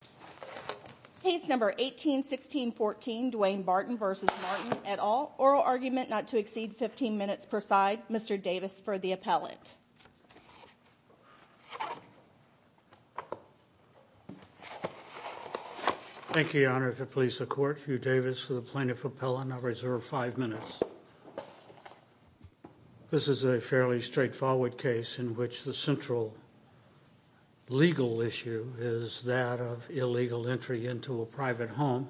at all. Oral argument not to exceed 15 minutes per side. Mr. Davis for the appellate. Thank you, Your Honor. If it please the Court, Hugh Davis for the plaintiff appellant. I'll reserve five minutes. This is a fairly straightforward case in which the central legal issue is that of illegal entry into a private home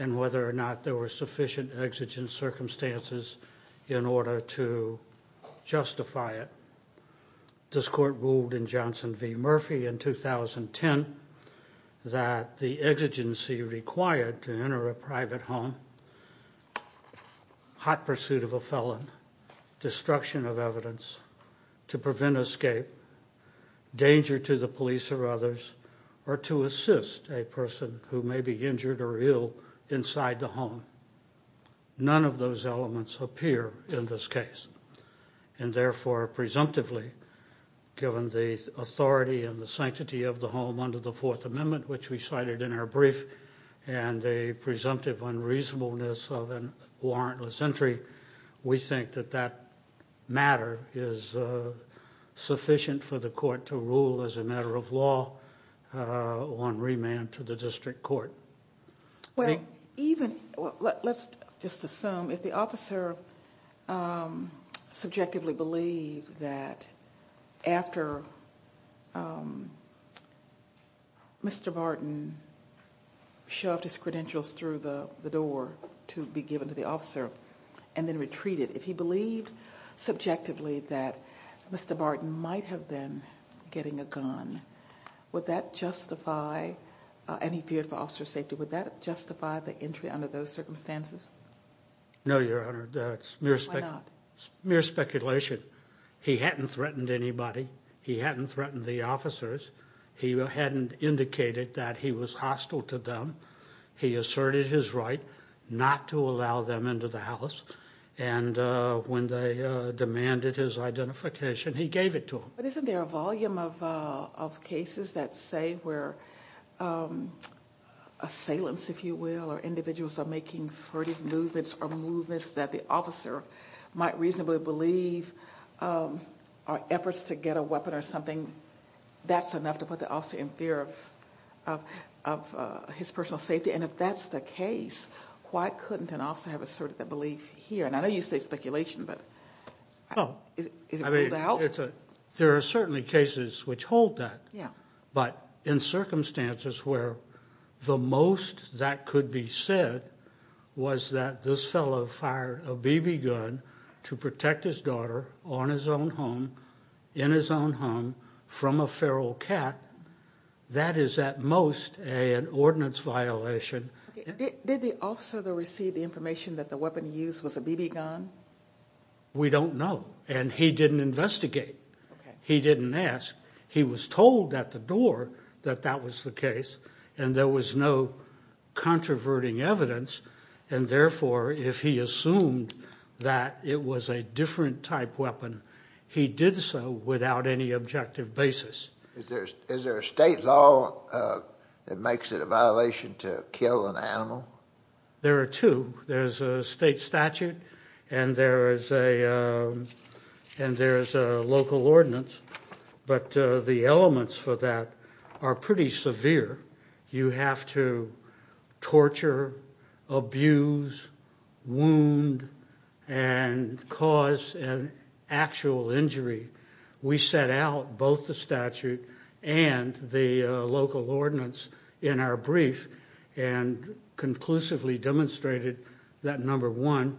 and whether or not there were sufficient exigent circumstances in order to justify it. This Court ruled in Johnson v. Murphy in 2010 that the exigency required to enter a private home, hot pursuit of a felon, destruction of evidence, to prevent escape, danger to the police or others, or to assist a person who may be injured or ill inside the home. None of those elements appear in this case. And therefore, presumptively, given the authority and the sanctity of the home under the Fourth Amendment, which we cited in our brief, and the presumptive unreasonableness of a warrantless entry, we think that that matter is sufficient for the Court to rule as a matter of law on remand to the district court. Let's just assume if the officer subjectively believed that after Mr. Barton shoved his credentials through the door to be given to the officer and then retreated, if he believed subjectively that Mr. Barton might have been getting a gun, would that justify any fear for officer safety? Would that justify the entry under those circumstances? No, Your Honor. It's mere speculation. He hadn't threatened anybody. He hadn't threatened the officers. He hadn't indicated that he was hostile to them. He asserted his right not to allow them into the house. And when they demanded his identification, he gave it to them. But isn't there a volume of cases that say where assailants, if you will, or individuals are making furtive movements or movements that the officer might reasonably believe are efforts to get a weapon or something, that's enough to put the officer in fear of his personal safety? And if that's the case, why couldn't an officer have asserted that belief here? There are certainly cases which hold that. But in circumstances where the most that could be said was that this fellow fired a BB gun to protect his daughter in his own home from a feral cat, that is at most an ordinance violation. Did the officer receive the information that the weapon he used was a BB gun? We don't know. And he didn't investigate. He didn't ask. He was told at the door that that was the case. And there was no controverting evidence. And therefore, if he assumed that it was a different type weapon, he did so without any objective basis. Is there a state law that makes it a violation to kill an animal? There are two. There's a state statute and there's a local ordinance. But the elements for that are pretty severe. You have to torture, abuse, wound, and cause an actual injury. We set out both the statute and the local ordinance in our brief and conclusively demonstrated that, number one,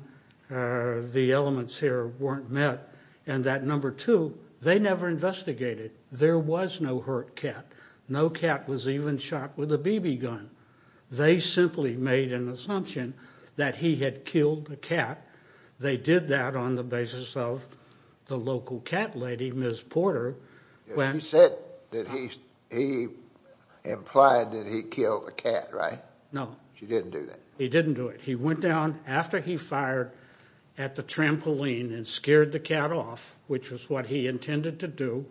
the elements here weren't met, and that, number two, they never investigated. There was no hurt cat. No cat was even shot with a BB gun. They simply made an assumption that he had killed a cat. They did that on the basis of the local cat lady, Ms. Porter. He said that he implied that he killed a cat, right? No. She didn't do that? He didn't do it. He went down after he fired at the trampoline and scared the cat off, which was what he intended to do.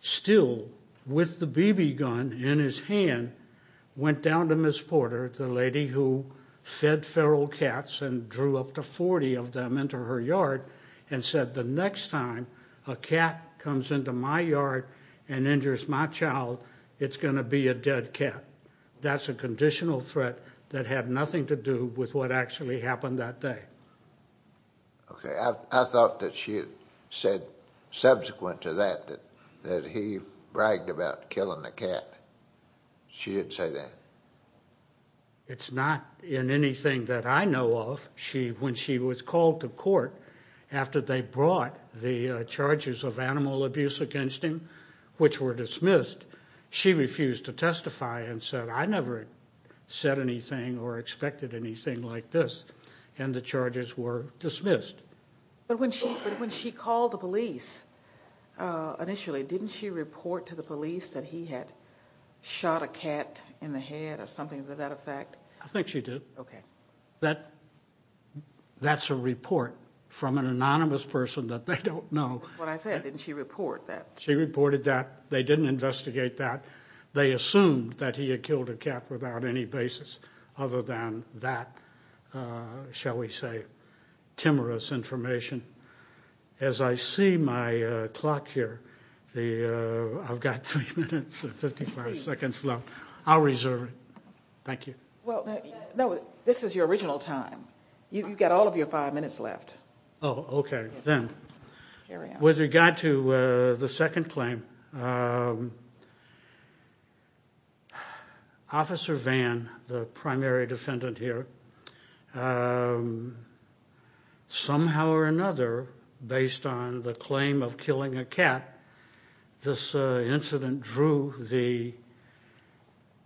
Still, with the BB gun in his hand, went down to Ms. Porter, the lady who fed feral cats and drew up to 40 of them into her yard, and said, the next time a cat comes into my yard and injures my child, it's going to be a dead cat. That's a conditional threat that had nothing to do with what actually happened that day. Okay. I thought that she had said subsequent to that that he bragged about killing the cat. She didn't say that? It's not in anything that I know of. When she was called to court after they brought the charges of animal abuse against him, which were dismissed, she refused to testify and said, I never said anything or expected anything like this, and the charges were dismissed. But when she called the police initially, didn't she report to the police that he had shot a cat in the head or something to that effect? I think she did. Okay. That's a report from an anonymous person that they don't know. That's what I said. Didn't she report that? She reported that. They didn't investigate that. They assumed that he had killed a cat without any basis other than that, shall we say, timorous information. As I see my clock here, I've got three minutes and 55 seconds left. I'll reserve it. Thank you. No, this is your original time. You've got all of your five minutes left. Oh, okay. Then, with regard to the second claim, Officer Vann, the primary defendant here, somehow or another, based on the claim of killing a cat, this incident drew the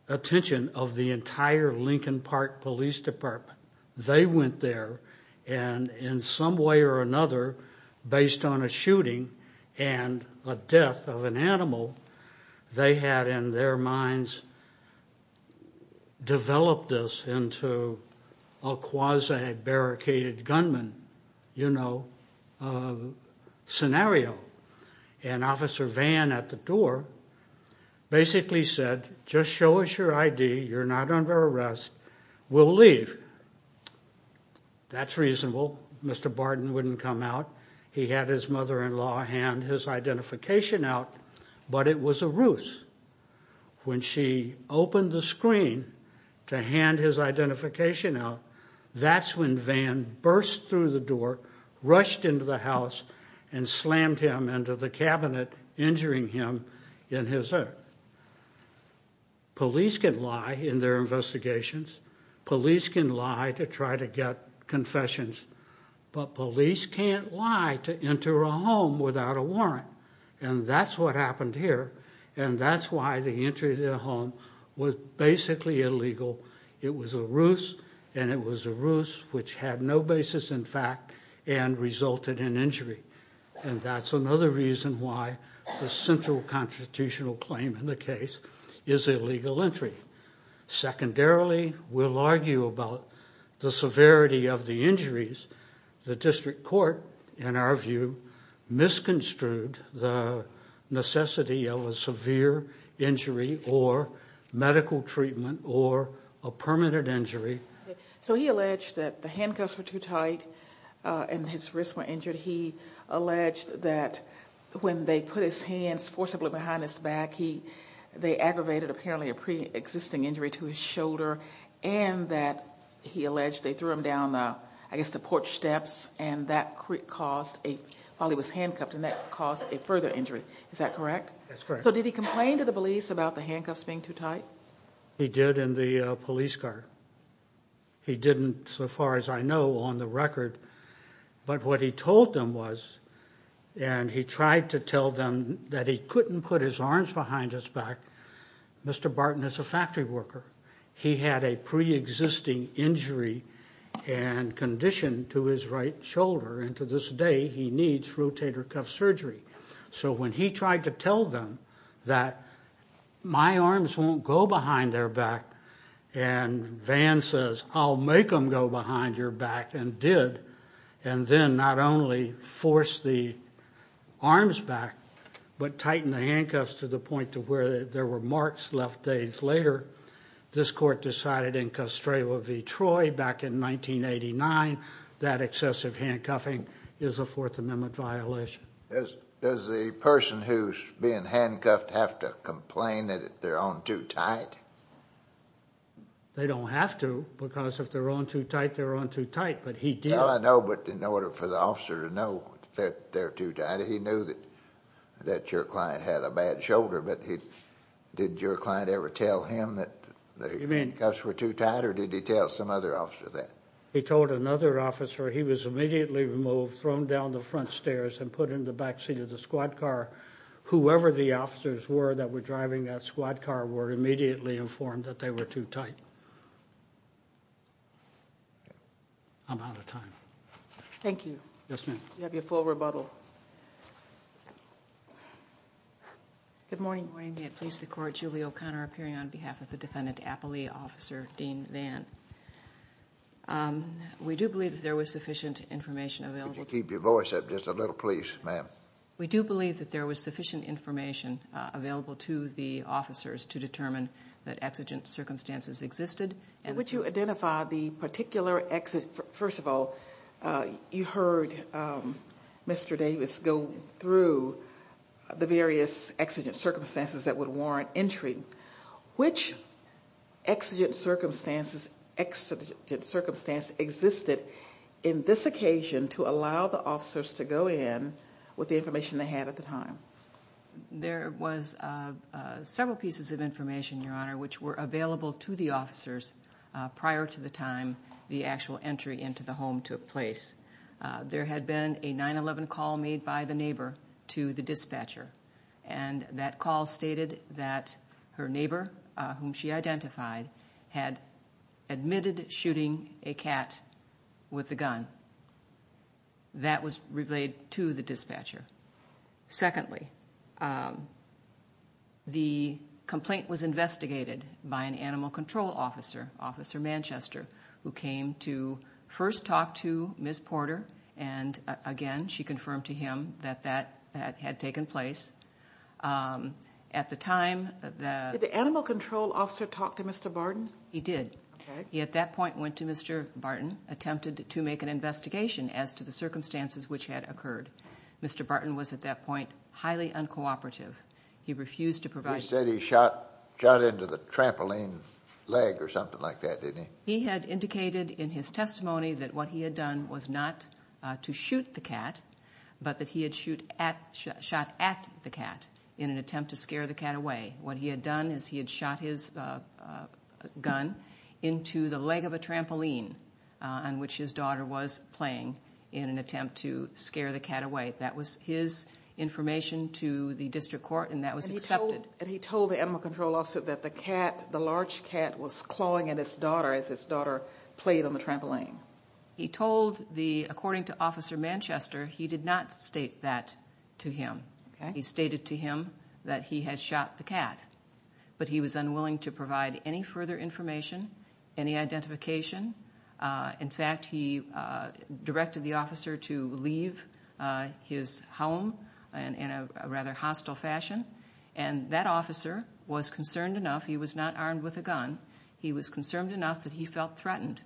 attention of the entire Lincoln Park Police Department. They went there, and in some way or another, based on a shooting and a death of an animal, they had in their minds developed this into a quasi-barricaded gunman scenario. Officer Vann, at the door, basically said, just show us your ID. You're not under arrest. We'll leave. That's reasonable. Mr. Barden wouldn't come out. He had his mother-in-law hand his identification out, but it was a ruse. When she opened the screen to hand his identification out, that's when Vann burst through the door, rushed into the house, and slammed him into the cabinet, injuring him in his ear. Police can lie in their investigations. Police can lie to try to get confessions, but police can't lie to enter a home without a warrant, and that's what happened here. That's why the entry to the home was basically illegal. It was a ruse, and it was a ruse which had no basis in fact, and resulted in injury. That's another reason why the central constitutional claim in the case is illegal entry. Secondarily, we'll argue about the severity of the injuries. The district court, in our view, misconstrued the necessity of a severe injury or medical treatment or a permanent injury. So he alleged that the handcuffs were too tight, and his wrists were injured. He alleged that when they put his hands forcibly behind his back, they aggravated apparently a pre-existing injury to his shoulder, and that he alleged they threw him down, I guess, the porch steps, and that caused, while he was handcuffed, and that caused a further injury. Is that correct? That's correct. So did he complain to the police about the handcuffs being too tight? He did in the police car. He didn't, so far as I know, on the record, but what he told them was, and he tried to tell them that he couldn't put his arms behind his back. Mr. Barton is a factory worker. He had a pre-existing injury and condition to his right shoulder, and to this day he needs rotator cuff surgery. So when he tried to tell them that my arms won't go behind their back, and Van says, I'll make them go behind your back, and did, and then not only forced the arms back, but tightened the handcuffs to the point to where there were marks left days later, this court decided in Castro v. Troy back in 1989 that excessive handcuffing is a Fourth Amendment violation. Does the person who's being handcuffed have to complain that they're on too tight? They don't have to, because if they're on too tight, they're on too tight, but he did. Well, I know, but in order for the officer to know that they're too tight, he knew that your client had a bad shoulder, but did your client ever tell him that the handcuffs were too tight, or did he tell some other officer that? He told another officer he was immediately removed, thrown down the front stairs, and put in the back seat of the squad car. Whoever the officers were that were driving that squad car were immediately informed that they were too tight. I'm out of time. Thank you. Yes, ma'am. You have your full rebuttal. Good morning. Good morning. May it please the Court. Julie O'Connor appearing on behalf of the defendant, Appley Officer Dean Vann. We do believe that there was sufficient information available. Could you keep your voice up just a little, please, ma'am? We do believe that there was sufficient information available to the officers to determine that exigent circumstances existed. Would you identify the particular exigent – first of all, you heard Mr. Davis go through the various exigent circumstances that would warrant entry. Which exigent circumstances existed in this occasion to allow the officers to go in with the information they had at the time? There was several pieces of information, Your Honor, which were available to the officers prior to the time the actual entry into the home took place. There had been a 9-11 call made by the neighbor to the dispatcher, and that call stated that her neighbor, whom she identified, had admitted shooting a cat with a gun. That was relayed to the dispatcher. Secondly, the complaint was investigated by an animal control officer, Officer Manchester, who came to first talk to Ms. Porter. And, again, she confirmed to him that that had taken place. At the time, the – Did the animal control officer talk to Mr. Barton? He did. He, at that point, went to Mr. Barton, attempted to make an investigation as to the circumstances which had occurred. Mr. Barton was, at that point, highly uncooperative. He refused to provide – You said he shot into the trampoline leg or something like that, didn't he? He had indicated in his testimony that what he had done was not to shoot the cat, but that he had shot at the cat in an attempt to scare the cat away. What he had done is he had shot his gun into the leg of a trampoline on which his daughter was playing in an attempt to scare the cat away. That was his information to the district court, and that was accepted. And he told the animal control officer that the cat, the large cat, was clawing at his daughter as his daughter played on the trampoline. He told the – according to Officer Manchester, he did not state that to him. Okay. He stated to him that he had shot the cat, but he was unwilling to provide any further information, any identification. In fact, he directed the officer to leave his home in a rather hostile fashion, and that officer was concerned enough – he was not armed with a gun – he was concerned enough that he felt threatened.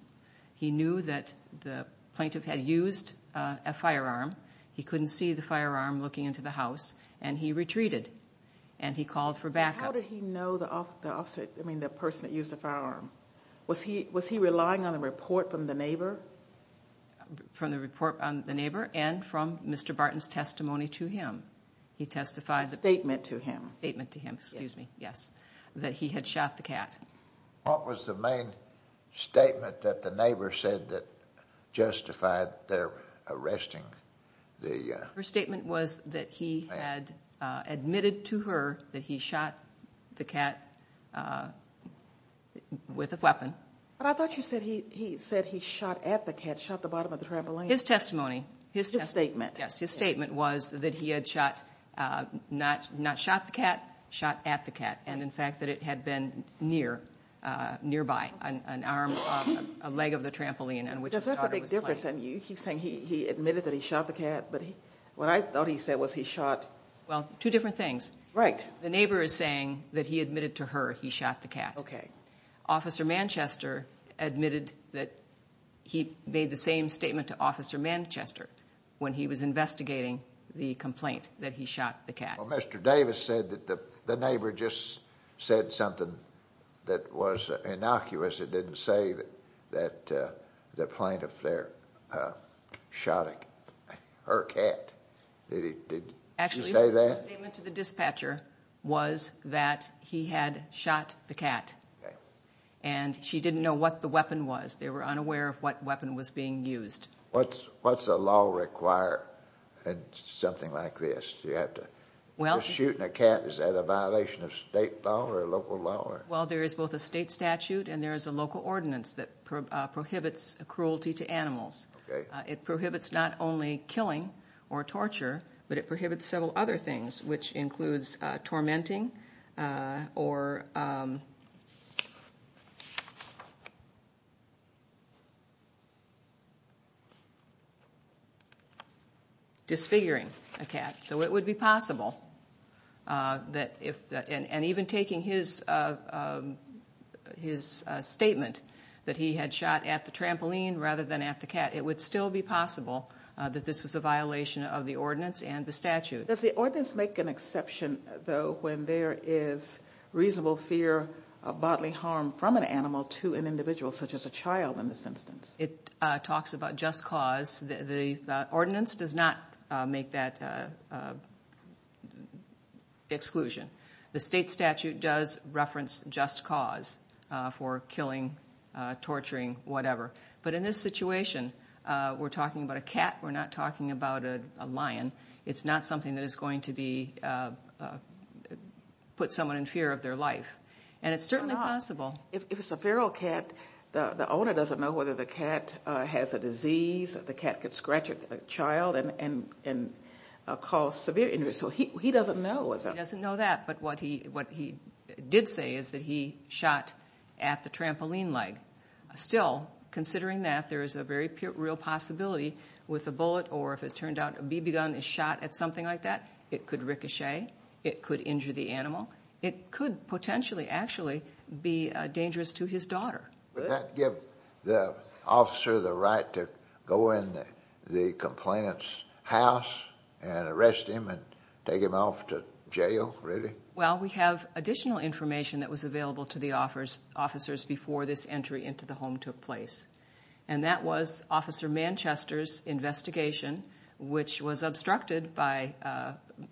He knew that the plaintiff had used a firearm. He couldn't see the firearm looking into the house, and he retreated, and he called for backup. How did he know the officer – I mean, the person that used the firearm? Was he relying on a report from the neighbor? From the report on the neighbor and from Mr. Barton's testimony to him. He testified – Statement to him. Statement to him, excuse me, yes, that he had shot the cat. What was the main statement that the neighbor said that justified their arresting the man? Her statement was that he had admitted to her that he shot the cat with a weapon. But I thought you said he said he shot at the cat, shot the bottom of the trampoline. His testimony. His statement. Yes, his statement was that he had shot – not shot the cat, shot at the cat. And, in fact, that it had been nearby, an arm, a leg of the trampoline on which his daughter was playing. Is that a big difference? You keep saying he admitted that he shot the cat, but what I thought he said was he shot – Well, two different things. Right. The neighbor is saying that he admitted to her he shot the cat. Okay. Officer Manchester admitted that he made the same statement to Officer Manchester when he was investigating the complaint that he shot the cat. Well, Mr. Davis said that the neighbor just said something that was innocuous. It didn't say that the plaintiff there shot her cat. Did she say that? Actually, her statement to the dispatcher was that he had shot the cat. Okay. And she didn't know what the weapon was. They were unaware of what weapon was being used. What's a law require something like this? You have to – Well – Just shooting a cat, is that a violation of state law or local law? Well, there is both a state statute and there is a local ordinance that prohibits cruelty to animals. Okay. It prohibits not only killing or torture, but it prohibits several other things, which includes tormenting or disfiguring a cat. So it would be possible that if – and even taking his statement that he had shot at the trampoline rather than at the cat, it would still be possible that this was a violation of the ordinance and the statute. Does the ordinance make an exception, though, when there is reasonable fear of bodily harm from an animal to an individual, such as a child in this instance? It talks about just cause. The ordinance does not make that exclusion. The state statute does reference just cause for killing, torturing, whatever. But in this situation, we're talking about a cat. We're not talking about a lion. It's not something that is going to put someone in fear of their life. And it's certainly possible. If it's a feral cat, the owner doesn't know whether the cat has a disease, that the cat could scratch a child and cause severe injury. So he doesn't know. He doesn't know that. But what he did say is that he shot at the trampoline leg. Still, considering that, there is a very real possibility with a bullet or if it turned out a BB gun is shot at something like that, it could ricochet. It could injure the animal. It could potentially actually be dangerous to his daughter. Would that give the officer the right to go in the complainant's house and arrest him and take him off to jail, really? Well, we have additional information that was available to the officers before this entry into the home took place, and that was Officer Manchester's investigation, which was obstructed by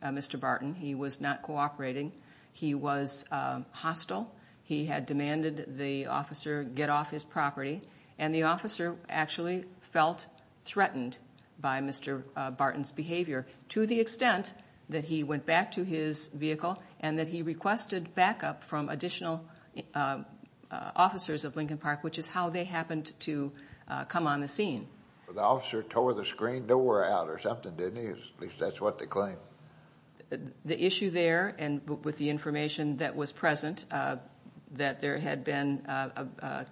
Mr. Barton. He was not cooperating. He was hostile. He had demanded the officer get off his property, and the officer actually felt threatened by Mr. Barton's behavior to the extent that he went back to his vehicle and that he requested backup from additional officers of Lincoln Park, which is how they happened to come on the scene. The officer tore the screen door out or something, didn't he? At least that's what they claim. The issue there, and with the information that was present, that there had been a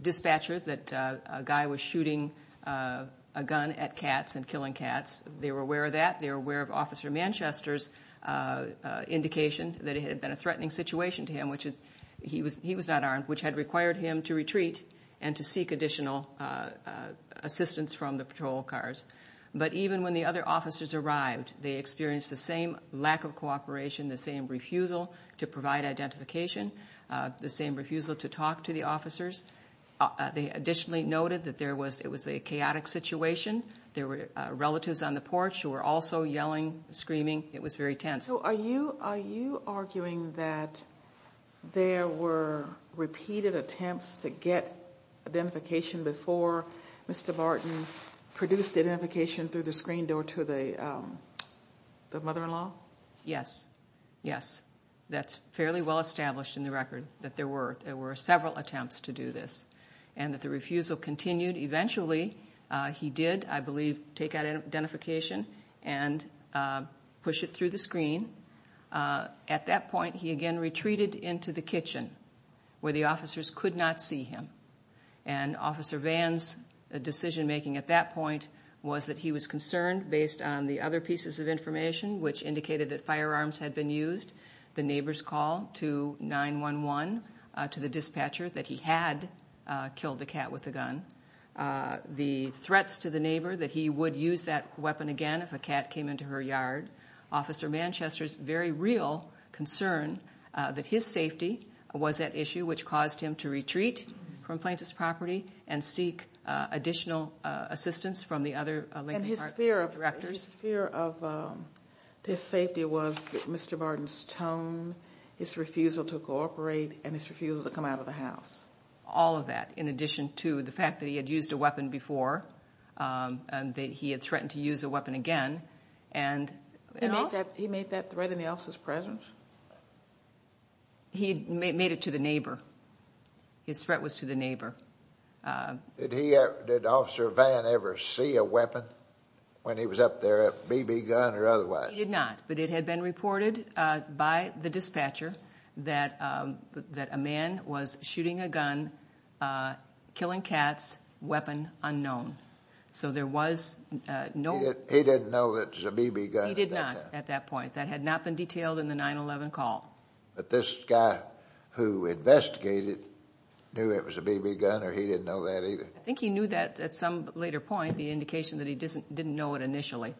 dispatcher that a guy was shooting a gun at cats and killing cats, they were aware of that. They were aware of Officer Manchester's indication that it had been a threatening situation to him, which he was not armed, which had required him to retreat and to seek additional assistance from the patrol cars. But even when the other officers arrived, they experienced the same lack of cooperation, the same refusal to provide identification, the same refusal to talk to the officers. They additionally noted that it was a chaotic situation. There were relatives on the porch who were also yelling, screaming. It was very tense. So are you arguing that there were repeated attempts to get identification before Mr. Barton produced identification through the screen door to the mother-in-law? Yes, yes. That's fairly well established in the record that there were. There were several attempts to do this and that the refusal continued. Eventually, he did, I believe, take out identification and push it through the screen. At that point, he again retreated into the kitchen where the officers could not see him. And Officer Vann's decision-making at that point was that he was concerned based on the other pieces of information, which indicated that firearms had been used, the neighbor's call to 911, to the dispatcher that he had killed a cat with a gun, the threats to the neighbor that he would use that weapon again if a cat came into her yard, Officer Manchester's very real concern that his safety was at issue, which caused him to retreat from Plaintiff's property and seek additional assistance from the other Lincoln Park directors. And his fear of this safety was Mr. Barton's tone, his refusal to cooperate, and his refusal to come out of the house? All of that, in addition to the fact that he had used a weapon before and that he had threatened to use a weapon again. He made that threat in the officer's presence? He made it to the neighbor. His threat was to the neighbor. Did Officer Vann ever see a weapon when he was up there, a BB gun or otherwise? He did not, but it had been reported by the dispatcher that a man was shooting a gun, killing cats, weapon unknown. So there was no... He didn't know that it was a BB gun at that time? He did not at that point. That had not been detailed in the 9-11 call. But this guy who investigated knew it was a BB gun or he didn't know that either? I think he knew that at some later point, the indication that he didn't know it initially.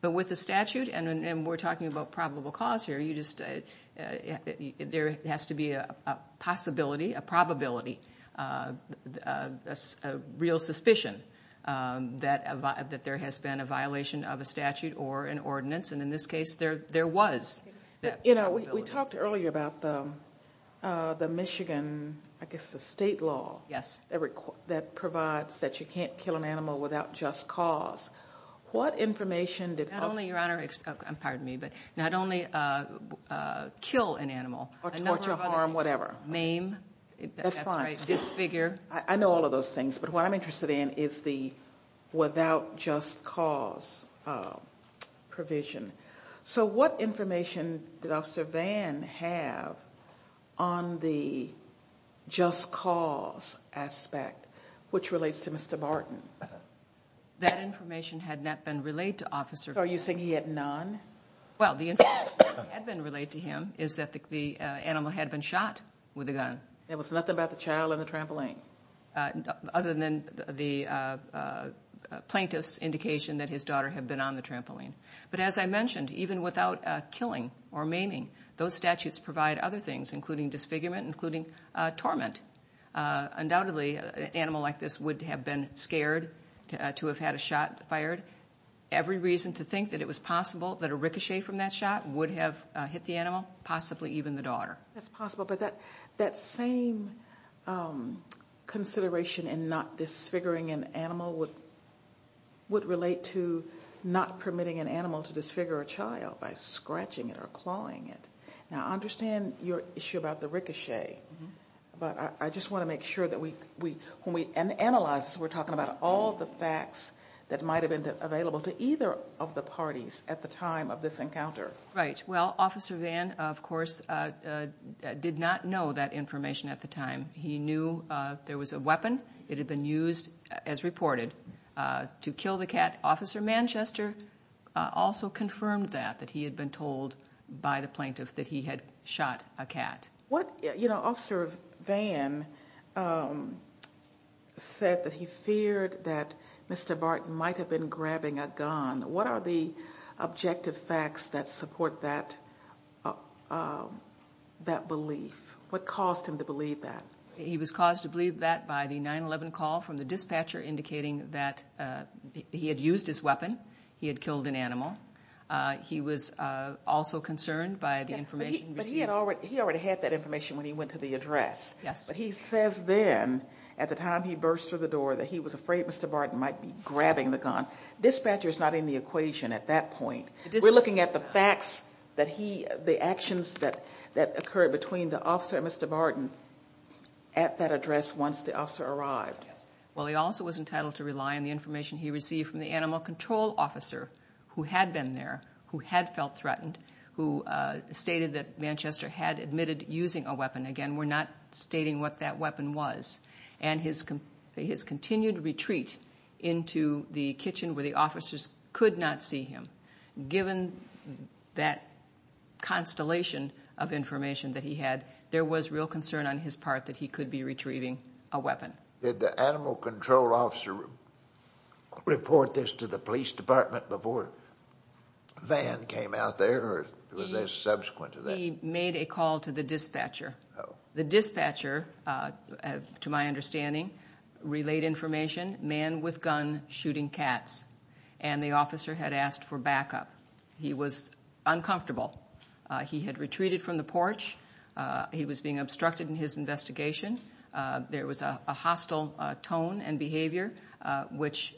But with the statute, and we're talking about probable cause here, there has to be a possibility, a probability, a real suspicion that there has been a violation of a statute or an ordinance, and in this case there was that probability. We talked earlier about the Michigan, I guess the state law, that provides that you can't kill an animal without just cause. What information did... Not only, Your Honor, pardon me, but not only kill an animal. Or torture, harm, whatever. Mame. That's fine. Disfigure. I know all of those things, but what I'm interested in is the without just cause provision. So what information did Officer Vann have on the just cause aspect, which relates to Mr. Barton? That information had not been relayed to Officer Vann. So are you saying he had none? Well, the information that had been relayed to him is that the animal had been shot with a gun. There was nothing about the child on the trampoline? Other than the plaintiff's indication that his daughter had been on the trampoline. But as I mentioned, even without killing or maming, those statutes provide other things, including disfigurement, including torment. Undoubtedly, an animal like this would have been scared to have had a shot fired. Every reason to think that it was possible that a ricochet from that shot would have hit the animal, possibly even the daughter. That's possible. But that same consideration in not disfiguring an animal would relate to not permitting an animal to disfigure a child by scratching it or clawing it. Now, I understand your issue about the ricochet, but I just want to make sure that when we analyze this, we're talking about all the facts that might have been available to either of the parties at the time of this encounter. Right. Well, Officer Vann, of course, did not know that information at the time. He knew there was a weapon. It had been used, as reported, to kill the cat. Officer Manchester also confirmed that, that he had been told by the plaintiff that he had shot a cat. Officer Vann said that he feared that Mr. Barton might have been grabbing a gun. What are the objective facts that support that belief? What caused him to believe that? He was caused to believe that by the 9-11 call from the dispatcher indicating that he had used his weapon, he had killed an animal. He was also concerned by the information received. But he already had that information when he went to the address. Yes. But he says then, at the time he burst through the door, that he was afraid Mr. Barton might be grabbing the gun. Dispatcher is not in the equation at that point. We're looking at the facts that he, the actions that occurred between the officer and Mr. Barton at that address once the officer arrived. Well, he also was entitled to rely on the information he received from the animal control officer who had been there, who had felt threatened, who stated that Manchester had admitted using a weapon. Again, we're not stating what that weapon was. And his continued retreat into the kitchen where the officers could not see him, given that constellation of information that he had, there was real concern on his part that he could be retrieving a weapon. Did the animal control officer report this to the police department before Van came out there? Or was there subsequent to that? He made a call to the dispatcher. The dispatcher, to my understanding, relayed information, man with gun shooting cats. And the officer had asked for backup. He was uncomfortable. He had retreated from the porch. He was being obstructed in his investigation. There was a hostile tone and behavior, which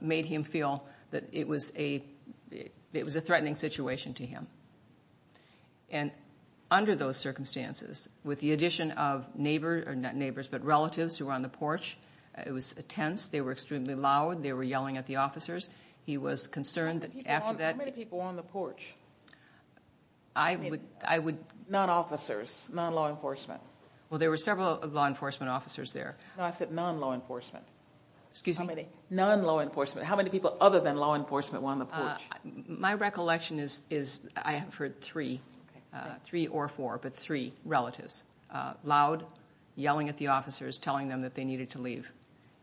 made him feel that it was a threatening situation to him. And under those circumstances, with the addition of neighbors, not neighbors, but relatives who were on the porch, it was tense. They were extremely loud. They were yelling at the officers. He was concerned that after that... How many people were on the porch? I would... Non-officers, non-law enforcement. Well, there were several law enforcement officers there. No, I said non-law enforcement. Excuse me? Non-law enforcement. How many people other than law enforcement were on the porch? My recollection is I heard three. Three or four, but three relatives. Loud, yelling at the officers, telling them that they needed to leave.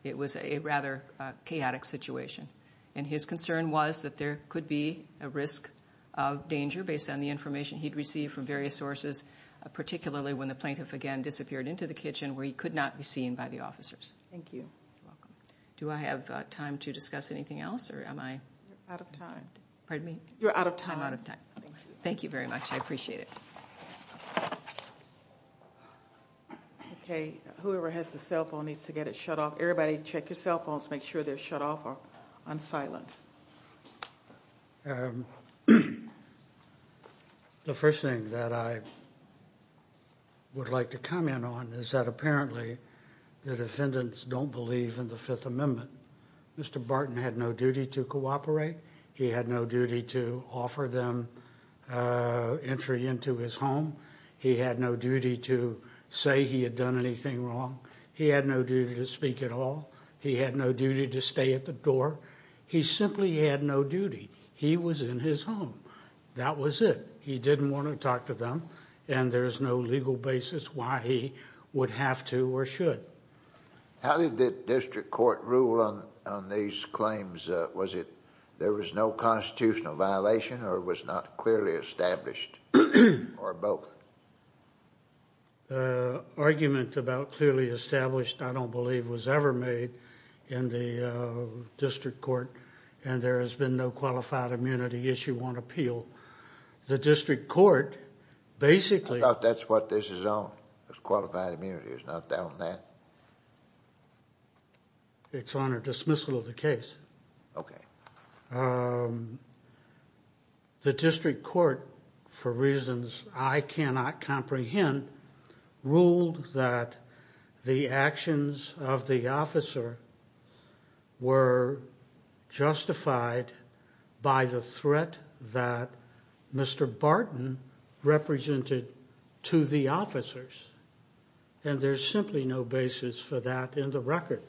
It was a rather chaotic situation. And his concern was that there could be a risk of danger based on the information he'd received from various sources, particularly when the plaintiff, again, disappeared into the kitchen, where he could not be seen by the officers. Thank you. You're welcome. Do I have time to discuss anything else, or am I...? You're out of time. Pardon me? You're out of time. I'm out of time. Thank you. Thank you very much. I appreciate it. Okay, whoever has the cell phone needs to get it shut off. Everybody, check your cell phones. Make sure they're shut off or unsilent. The first thing that I would like to comment on is that apparently the defendants don't believe in the Fifth Amendment. Mr. Barton had no duty to cooperate. He had no duty to offer them entry into his home. He had no duty to say he had done anything wrong. He had no duty to speak at all. He had no duty to stay at the door. He simply had no duty. He was in his home. That was it. He didn't want to talk to them, and there's no legal basis why he would have to or should. How did the district court rule on these claims? Was it there was no constitutional violation or it was not clearly established, or both? Argument about clearly established, I don't believe, was ever made in the district court, and there has been no qualified immunity issue on appeal. The district court basically— I thought that's what this is on, is qualified immunity. Is it not on that? It's on a dismissal of the case. Okay. The district court, for reasons I cannot comprehend, ruled that the actions of the officer were justified by the threat that Mr. Barton represented to the officers, and there's simply no basis for that in the record.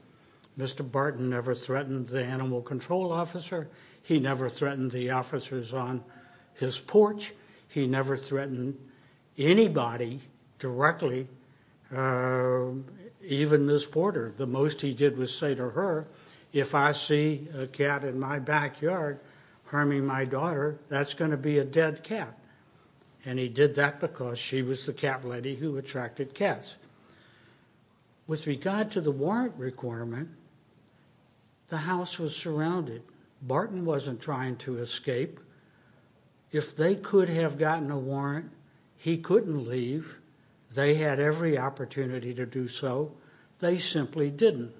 Mr. Barton never threatened the animal control officer. He never threatened the officers on his porch. He never threatened anybody directly, even Ms. Porter. The most he did was say to her, if I see a cat in my backyard harming my daughter, that's going to be a dead cat, and he did that because she was the cat lady who attracted cats. With regard to the warrant requirement, the house was surrounded. Barton wasn't trying to escape. If they could have gotten a warrant, he couldn't leave. They had every opportunity to do so. They simply didn't.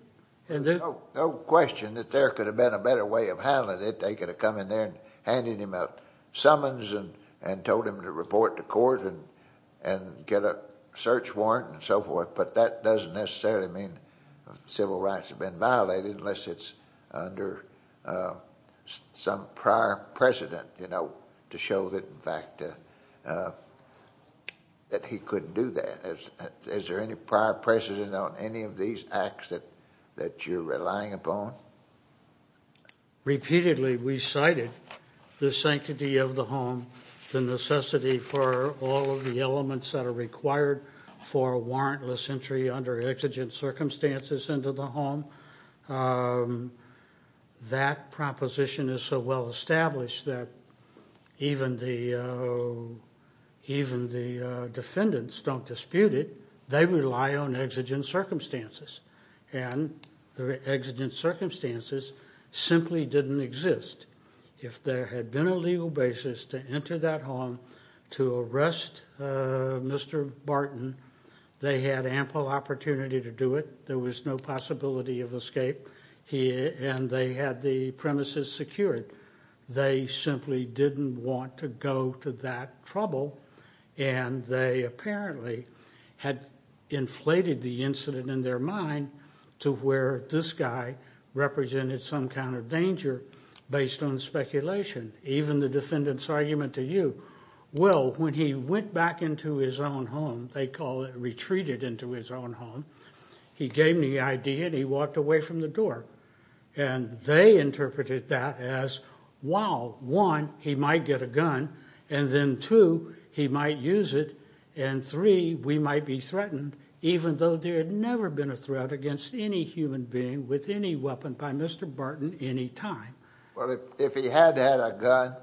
No question that there could have been a better way of handling it. They could have come in there and handed him a summons and told him to report to court and get a search warrant and so forth, but that doesn't necessarily mean civil rights have been violated unless it's under some prior precedent, you know, to show that, in fact, that he couldn't do that. Is there any prior precedent on any of these acts that you're relying upon? Repeatedly we cited the sanctity of the home, the necessity for all of the elements that are required for a warrantless entry under exigent circumstances into the home. That proposition is so well established that even the defendants don't dispute it. They rely on exigent circumstances, and the exigent circumstances simply didn't exist. If there had been a legal basis to enter that home to arrest Mr. Barton, they had ample opportunity to do it. There was no possibility of escape, and they had the premises secured. They simply didn't want to go to that trouble, and they apparently had inflated the incident in their mind to where this guy represented some kind of danger based on speculation. Even the defendant's argument to you, well, when he went back into his own home, they call it retreated into his own home, he gave the idea and he walked away from the door, and they interpreted that as, wow, one, he might get a gun, and then two, he might use it, and three, we might be threatened, even though there had never been a threat against any human being with any weapon by Mr. Barton any time. Well, if he had had a gun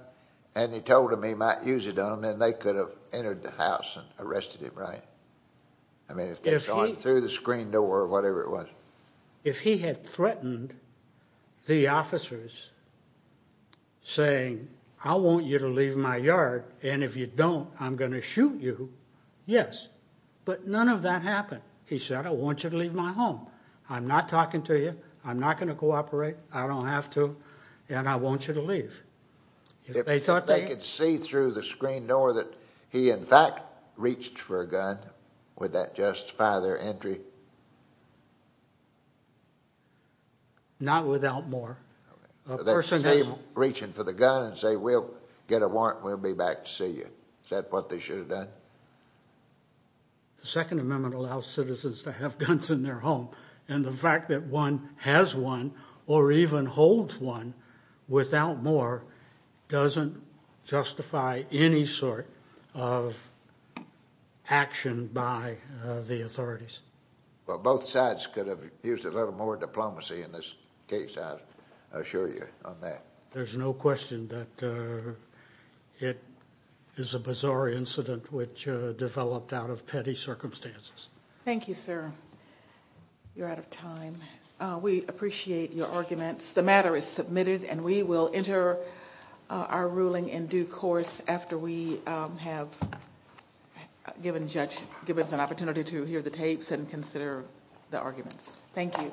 and he told them he might use it on them, then they could have entered the house and arrested him, right? I mean, if they had gone through the screen door or whatever it was. If he had threatened the officers saying, I want you to leave my yard, and if you don't, I'm going to shoot you, yes. But none of that happened. He said, I want you to leave my home. I'm not talking to you. I'm not going to cooperate. I don't have to, and I want you to leave. If they could see through the screen door that he, in fact, reached for a gun, would that justify their entry? Not without more. That same reaching for the gun and saying, we'll get a warrant, we'll be back to see you. Is that what they should have done? The Second Amendment allows citizens to have guns in their home, and the fact that one has one or even holds one without more doesn't justify any sort of action by the authorities. Well, both sides could have used a little more diplomacy in this case, I assure you on that. There's no question that it is a bizarre incident which developed out of petty circumstances. Thank you, sir. You're out of time. We appreciate your arguments. The matter is submitted, and we will enter our ruling in due course after we have given the judge an opportunity to hear the tapes and consider the arguments. Thank you.